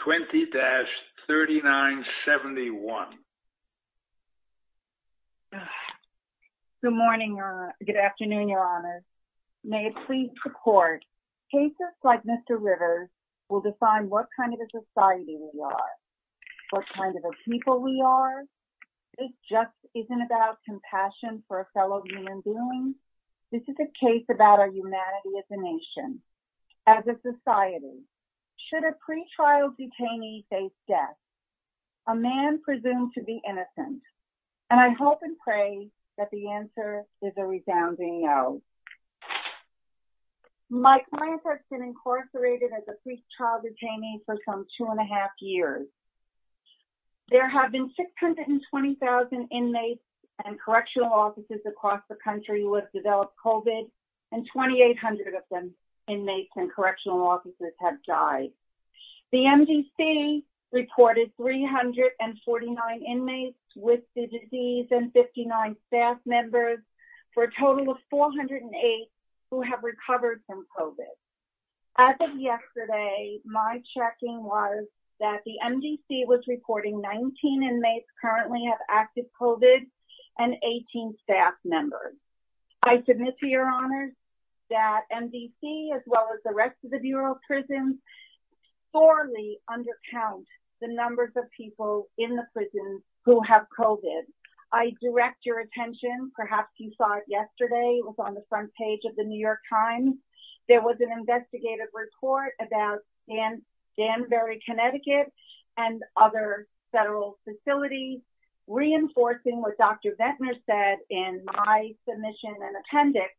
20-3971. Good morning, Your Honor. Good afternoon, Your Honor. May it please the court. Cases like Mr. Rivers will define what kind of a society we are, what kind of a people we are. This just isn't about compassion for a fellow human being. This is a case about our humanity as a nation, as a society. Should a pretrial detainee face death, a man presumed to be innocent? And I hope and pray that the answer is a resounding no. My client has been incarcerated as a pretrial detainee for some two and a half years. There have been 620,000 inmates and correctional offices across the country who have developed COVID, and 2,800 of them, inmates and correctional offices, have died. The MDC reported 349 inmates with the disease and 59 staff members, for a total of 408 who have recovered from COVID. As of yesterday, my checking was that the MDC was reporting 19 inmates currently have active COVID and 18 staff members. I submit to Your Honor that MDC, as well as the rest of the Bureau of Prisons, sorely undercounts the numbers of people in the prisons who have COVID. I direct your attention, perhaps you saw it yesterday, it was on the front page of the New York Times, there was an investigative report about Danbury, Connecticut, and other federal facilities, reinforcing what Dr. Vettner said in my submission and appendix,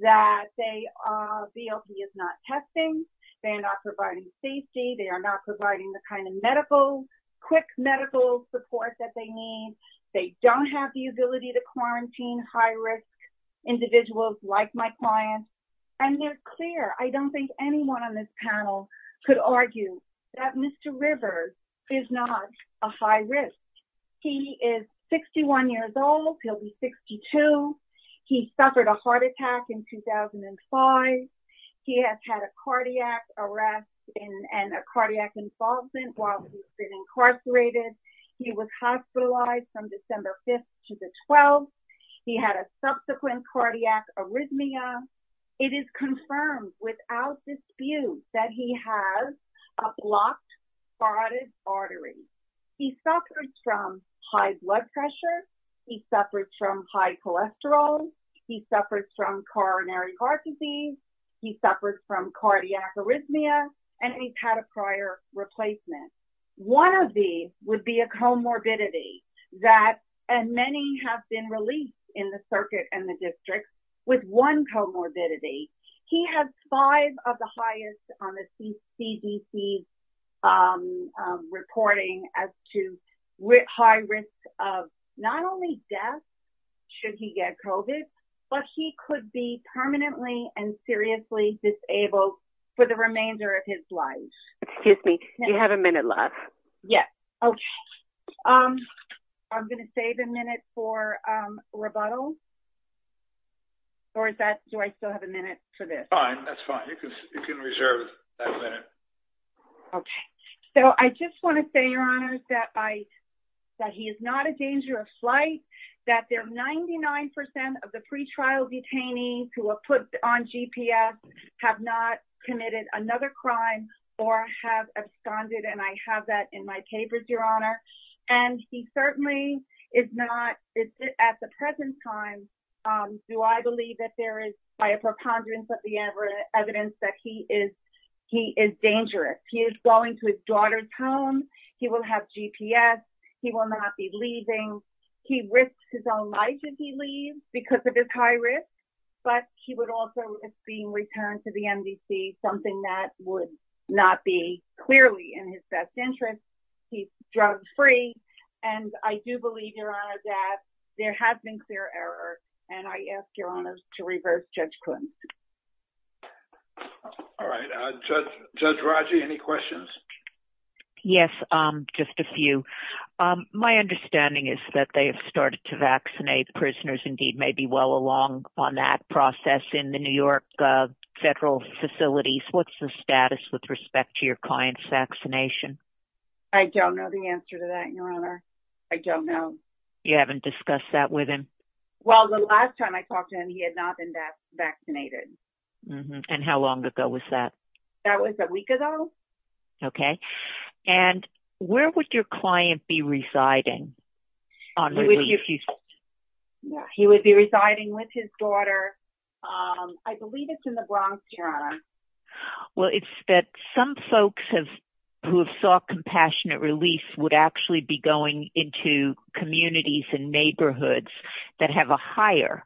that they, VLP is not testing, they're not providing safety, they are not providing the kind of medical, quick medical support that they need, they don't have the ability to quarantine high-risk individuals like my client, and they're clear. I don't think anyone on this panel could argue that Mr. Rivers is not a high risk. He is 61 years old, he'll be 62, he suffered a heart attack in 2005, he has had a cardiac arrest and a cardiac involvement while he's been incarcerated, he was hospitalized from December 5th to the 12th, he had a subsequent cardiac arrhythmia. It is confirmed without dispute that he has a blocked, throtted artery. He suffered from coronary heart disease, he suffered from cardiac arrhythmia, and he's had a prior replacement. One of these would be a comorbidity that, and many have been released in the circuit and the district with one comorbidity. He has five of the highest on the CDC reporting as to high risk of not only death should he get COVID, but he could be permanently and seriously disabled for the remainder of his life. Excuse me, you have a minute left. Yes, okay. I'm going to save a minute for rebuttal. Or is that, do I still have a minute for this? Fine, that's fine, you can reserve that minute. Okay, so I just want to say, Your Honor, that he is not a danger of flight, that there are 99% of the pretrial detainees who are put on GPS have not committed another crime or have absconded, and I have that in my papers, Your Honor. And he certainly is not, at the present time, do I believe that there is, by a preponderance of the evidence, that he is dangerous. He is going to his daughter's home, he will have GPS, he will not be leaving. He risks his own life if he leaves because of his high risk, but he would also risk being returned to the MDC, something that would not be clearly in his best interest. He's drug-free, and I do believe, Your Honor, that there has been clear error, and I ask, Your Honor, to reverse Judge Clinton. All right, Judge Raji, any questions? Yes, just a few. My understanding is that they have started to vaccinate prisoners, indeed maybe well along on that process, in the New York federal facilities. What's the status with respect to your client's vaccination? I don't know the answer to that, Your Honor. I don't know. You haven't discussed that with him? Well, the last time I talked to him, he had not been vaccinated. And how long ago was that? That was a week ago. Okay. And where would your client be residing? He would be residing with his daughter, I believe it's in the Bronx, Your Honor. Well, it's that some folks who have sought compassionate release would actually be going into communities and neighborhoods that have a higher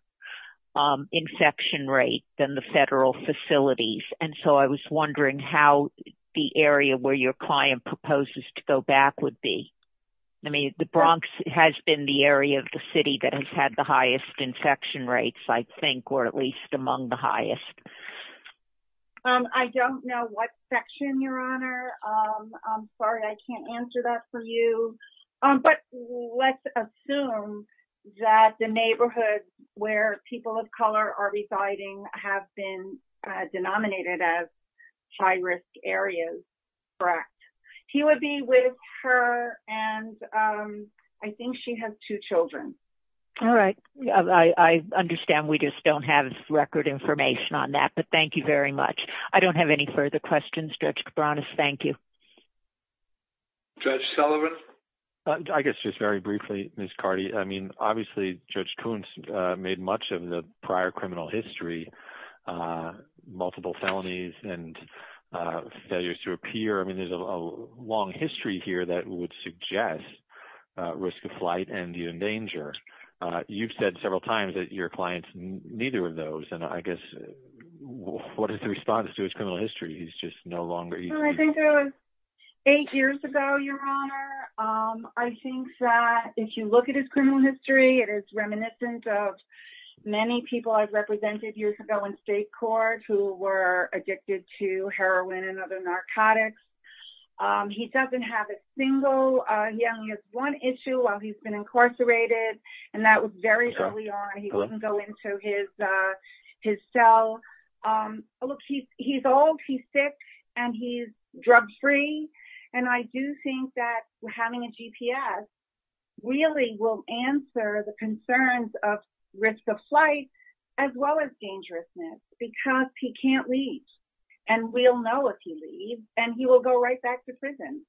infection rate than the federal facilities, and so I was wondering how the area where your client proposes to go back would be. I mean, the Bronx has been the area of the city that has had the highest infection rates, or at least among the highest. I don't know what section, Your Honor. I'm sorry, I can't answer that for you. But let's assume that the neighborhoods where people of color are residing have been denominated as high-risk areas, correct? He would be with her, and I think she has two children. All right. I understand we just don't have record information on that, but thank you very much. I don't have any further questions. Judge Cabranes, thank you. Judge Sullivan? I guess just very briefly, Ms. Carty. I mean, obviously, Judge Kuntz made much of the prior criminal history, multiple felonies and failures to appear. I mean, there's a long history here that would suggest risk of flight and danger. You've said several times that your client's neither of those, and I guess what is the response to his criminal history? He's just no longer— I think it was eight years ago, Your Honor. I think that if you look at his criminal history, it is reminiscent of many people I've represented years ago in state court who were addicted to gambling. He has one issue while he's been incarcerated, and that was very early on. He wouldn't go into his cell. Look, he's old, he's sick, and he's drug-free, and I do think that having a GPS really will answer the concerns of risk of flight as well as dangerousness, because he can't reach, and we'll know if he leaves, and he will go right back to prison.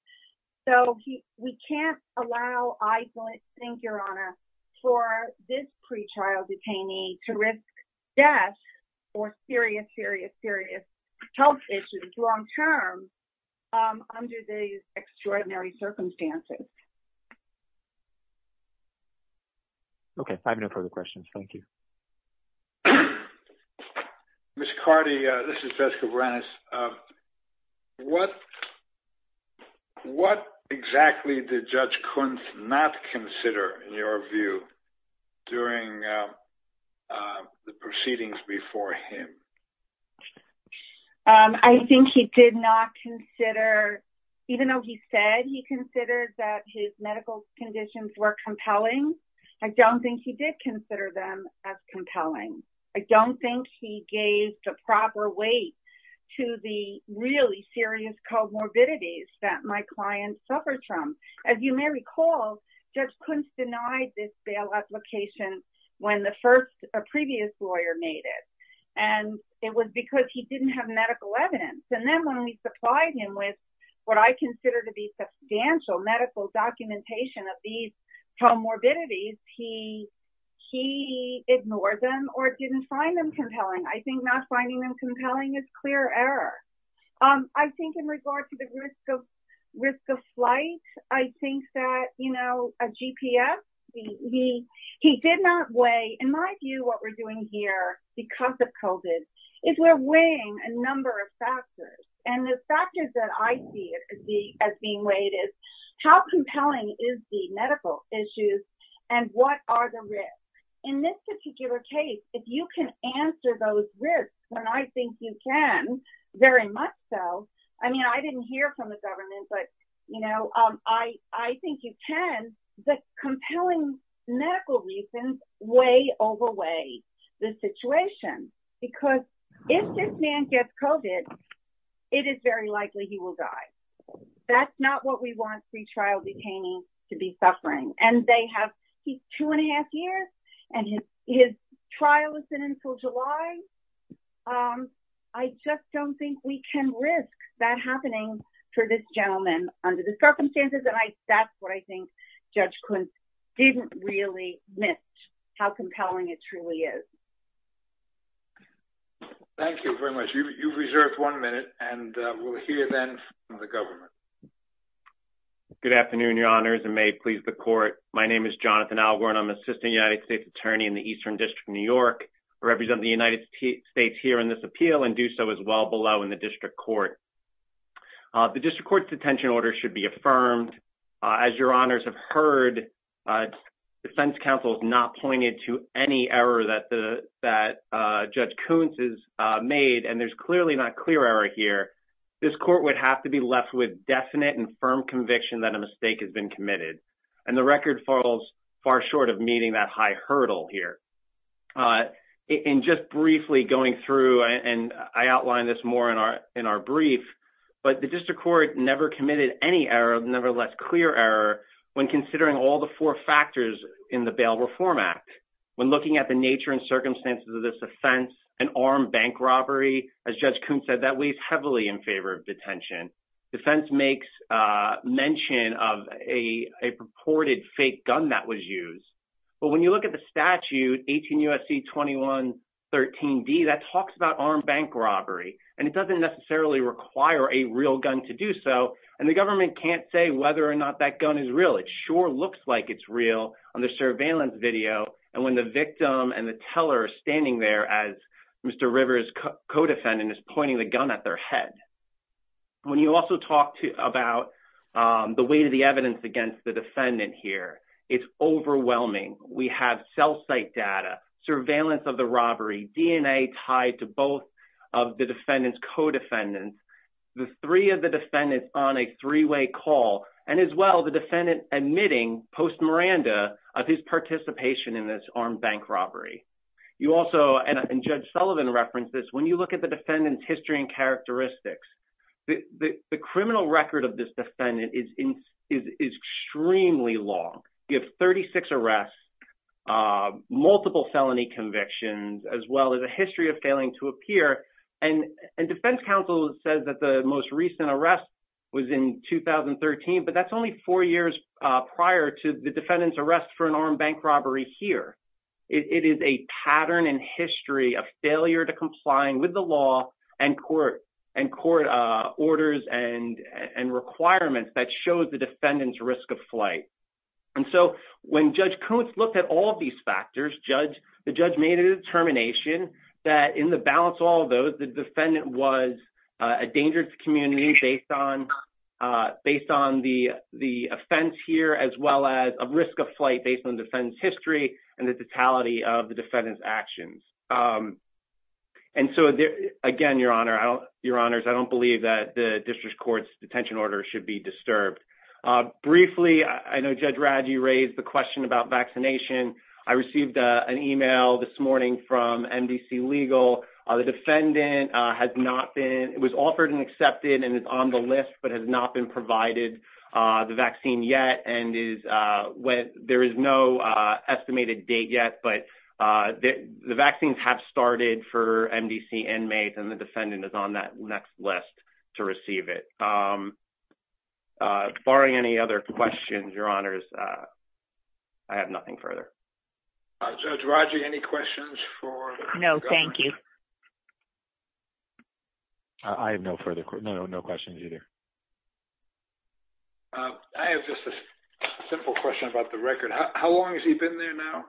So, we can't allow, I don't think, Your Honor, for this pretrial detainee to risk death or serious, serious, serious health issues long-term under these extraordinary circumstances. Okay. I have no further questions. Thank you. Ms. Carty, this is Jessica Berenice. What exactly did Judge Kuntz not consider, in your view, during the proceedings before him? I think he did not consider—even though he said he considered that his medical conditions were compelling—I don't think he did consider them as compelling. I don't think he gave the proper weight to the really serious comorbidities that my client suffered from. As you may recall, Judge Kuntz denied this bail application when the previous lawyer made it, and it was because he didn't have medical evidence, and then when we supplied him with what I consider to be substantial medical documentation of these comorbidities, he ignored them or didn't find them compelling. I think not finding them compelling is clear error. I think in regard to the risk of flight, I think that, you know, a GPS, he did not weigh—in my view, what we're doing here, because of COVID, is we're weighing a number of factors, and the as being weighted, how compelling is the medical issues, and what are the risks? In this particular case, if you can answer those risks, and I think you can, very much so—I mean, I didn't hear from the government, but, you know, I think you can—the compelling medical reasons weigh overweigh the situation, because if this man gets COVID, it is very likely he will die. That's not what we want pretrial detainees to be suffering, and they have—he's two and a half years, and his trial has been in until July. I just don't think we can risk that happening for this gentleman under the circumstances, and that's what I think Judge Kuntz didn't really admit how compelling it truly is. Thank you very much. You've reserved one minute, and we'll hear then from the government. Good afternoon, Your Honors, and may it please the Court. My name is Jonathan Algor, and I'm Assistant United States Attorney in the Eastern District of New York. I represent the United States here in this appeal and do so as well below in the District Court. The District Court's detention order should be affirmed. As Your Honors have heard, defense counsel has not pointed to any error that Judge Kuntz has made, and there's clearly not clear error here. This court would have to be left with definite and firm conviction that a mistake has been committed, and the record falls far short of meeting that high hurdle here. In just briefly going through, and I outline this more in our clear error when considering all the four factors in the Bail Reform Act. When looking at the nature and circumstances of this offense, an armed bank robbery, as Judge Kuntz said, that weighs heavily in favor of detention. Defense makes mention of a purported fake gun that was used, but when you look at the statute, 18 U.S.C. 2113d, that talks about armed bank robbery, and it doesn't necessarily require a real gun to do so, and the government can't say whether or not that gun is real. It sure looks like it's real on the surveillance video, and when the victim and the teller are standing there as Mr. Rivers' co-defendant is pointing the gun at their head. When you also talk about the weight of the evidence against the defendant here, it's overwhelming. We have cell site data, surveillance of the robbery, DNA tied to both of the defendant's co-defendants, the three of the defendants on a three-way call, and as well, the defendant admitting post-Miranda of his participation in this armed bank robbery. You also, and Judge Sullivan referenced this, when you look at the defendant's history and characteristics, the criminal record of this defendant is extremely long. You have 36 arrests, multiple felony convictions, as well as a history of failing to appear, and defense counsel says that the most recent arrest was in 2013, but that's only four years prior to the defendant's arrest for an armed bank robbery here. It is a pattern in history of failure to comply with the law and court orders and requirements that shows the defendant's risk of flight. When Judge Koontz looked at all of these factors, the judge made a determination that in the balance of all of those, the defendant was a dangerous community based on the offense here, as well as a risk of flight based on the defendant's history and the totality of the defendant's actions. Again, Your Honors, I don't believe that the I know Judge Radge raised the question about vaccination. I received an email this morning from MDC Legal. The defendant has not been, it was offered and accepted and is on the list, but has not been provided the vaccine yet, and there is no estimated date yet, but the vaccines have started for MDC inmates, and the defendant is on that next list to receive it. Barring any other questions, Your Honors, I have nothing further. Judge Radge, any questions for the- No, thank you. I have no further questions, no questions either. I have just a simple question about the record. How long has he been there now?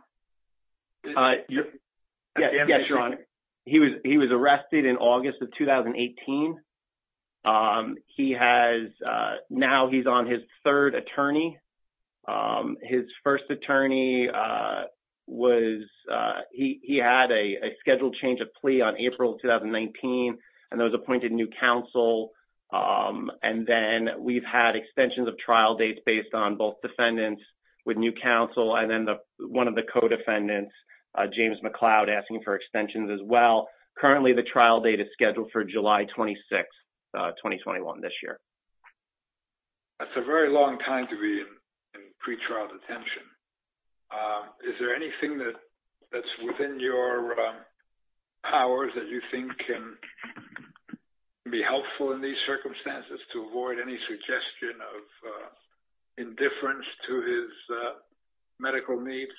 Yes, Your Honor. He was arrested in August of 2018. Now, he's on his third attorney. His first attorney, he had a scheduled change of plea on April 2019, and that was appointed new counsel. Then we've had extensions of trial dates based on both defendants with new counsel, and then one of the co-defendants, James McLeod, asking for extensions as well. Currently, the trial date is scheduled for July 26, 2021, this year. That's a very long time to be in pretrial detention. Is there anything that's within your powers that you think can be helpful in these circumstances to avoid any suggestion of indifference to his medical needs?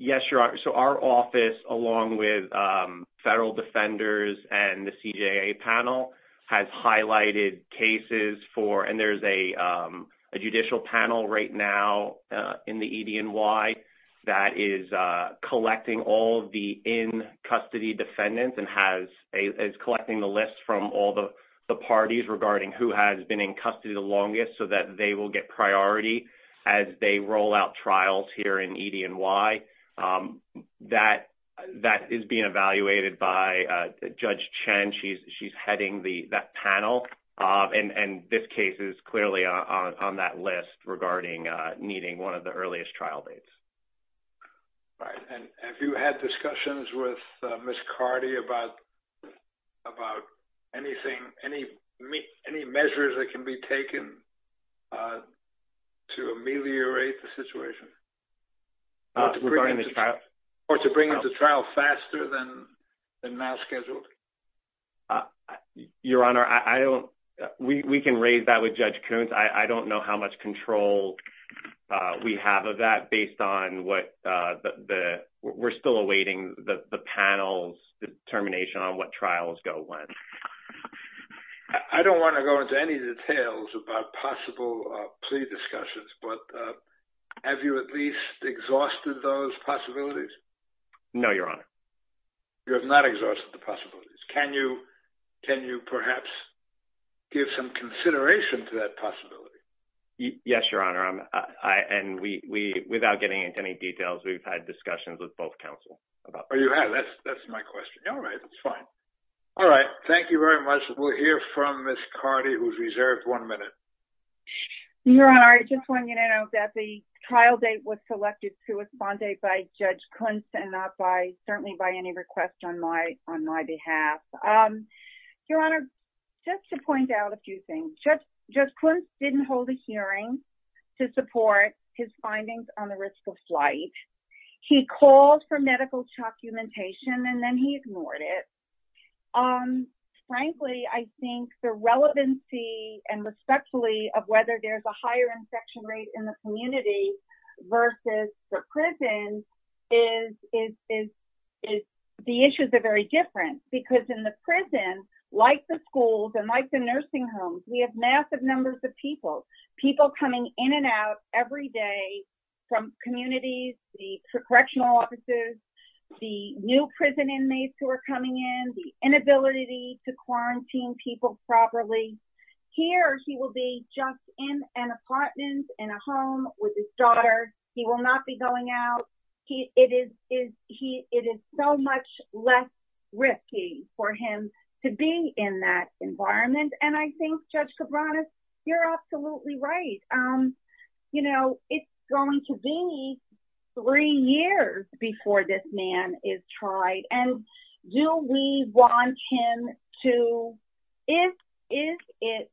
Yes, Your Honor. Our office, along with federal defenders and the CJA panel, has highlighted cases for... and there's a judicial panel right now in the EDNY that is collecting all of the in-custody defendants and has... is collecting the list from all the parties regarding who has been in custody the longest so that they will get priority as they roll out trials here in EDNY. That is being evaluated by Judge Chen. She's heading that panel, and this case is clearly on that list regarding needing one of the earliest trial dates. All right. Have you had discussions with Ms. Carty about any measures that can be taken to ameliorate the situation or to bring into trial faster than now scheduled? Your Honor, I don't... we can raise that with Judge Coons. I don't know how much control we have of that based on what... we're still awaiting the panel's determination on what trials go when. I don't want to go into any details about possible plea discussions, but have you at least exhausted those possibilities? No, Your Honor. You have not exhausted the possibilities. Can you perhaps give some consideration to that and we... without getting into any details, we've had discussions with both counsel about... Oh, you have? That's my question. All right. That's fine. All right. Thank you very much. We'll hear from Ms. Carty, who's reserved one minute. Your Honor, I just want you to know that the trial date was selected to respond date by Judge Coons and not by... certainly by any request on my behalf. Your Honor, just to point out a few things. Judge Coons didn't hold a hearing to support his findings on the risk of flight. He called for medical documentation and then he ignored it. Frankly, I think the relevancy and respectfully of whether there's a higher infection rate in the community versus the prison is... the issues are very different because in the prison, like the schools and like the nursing homes, we have massive numbers of people, people coming in and out every day from communities, the correctional offices, the new prison inmates who are coming in, the inability to quarantine people properly. Here, he will be just in an apartment in a home with his daughter. He will not be going out. He... it is so much less risky for him to be in that environment. I think, Judge Cabranas, you're absolutely right. It's going to be three years before this man is tried. Do we want him to... is it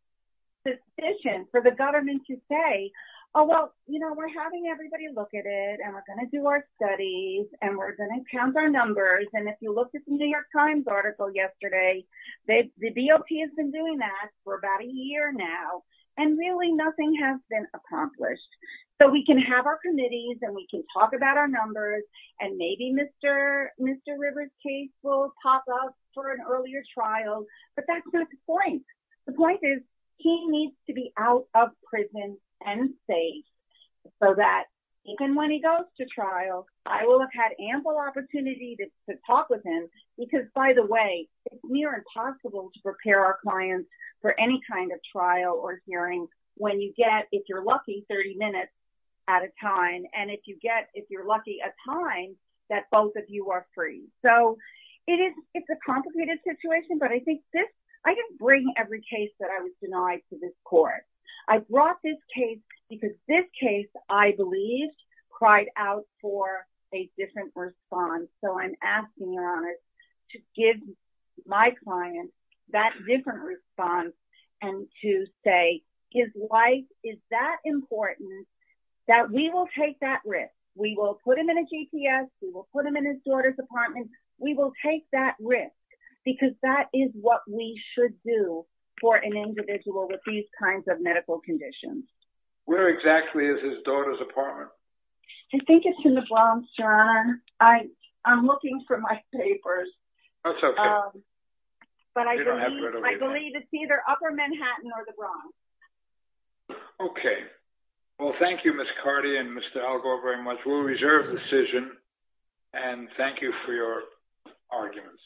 sufficient for the government to say, oh, well, we're having everybody look at it and we're going to do our studies and we're going to count our numbers? If you looked at the New York Times article yesterday, the BOP has been doing that for about a year now and really nothing has been accomplished. We can have our committees and we can talk about our numbers and maybe Mr. Rivers' case will pop up for an earlier trial, but that's not the point. The point is, he needs to be out of prison and safe so that even when he goes to trial, I will have had ample opportunity to talk with him because, by the way, it's near impossible to prepare our clients for any kind of trial or hearing when you get, if you're lucky, 30 minutes at a time and if you get, if you're lucky, a time that both of you are So, it is, it's a complicated situation, but I think this, I didn't bring every case that I was denied to this court. I brought this case because this case, I believe, cried out for a different response. So, I'm asking, Your Honor, to give my client that different response and to say, his life is that important that we will take that risk. We will put him in a GPS, we will put him in his daughter's apartment, we will take that risk because that is what we should do for an individual with these kinds of medical conditions. Where exactly is his daughter's apartment? I think it's in the Bronx, Your Honor. I'm looking for my papers. That's okay. But I believe, I believe it's either upper Manhattan or the Bronx. Okay. Well, thank you, Ms. Cardi and Mr. Algor very much. We'll reserve the decision and thank you for your arguments.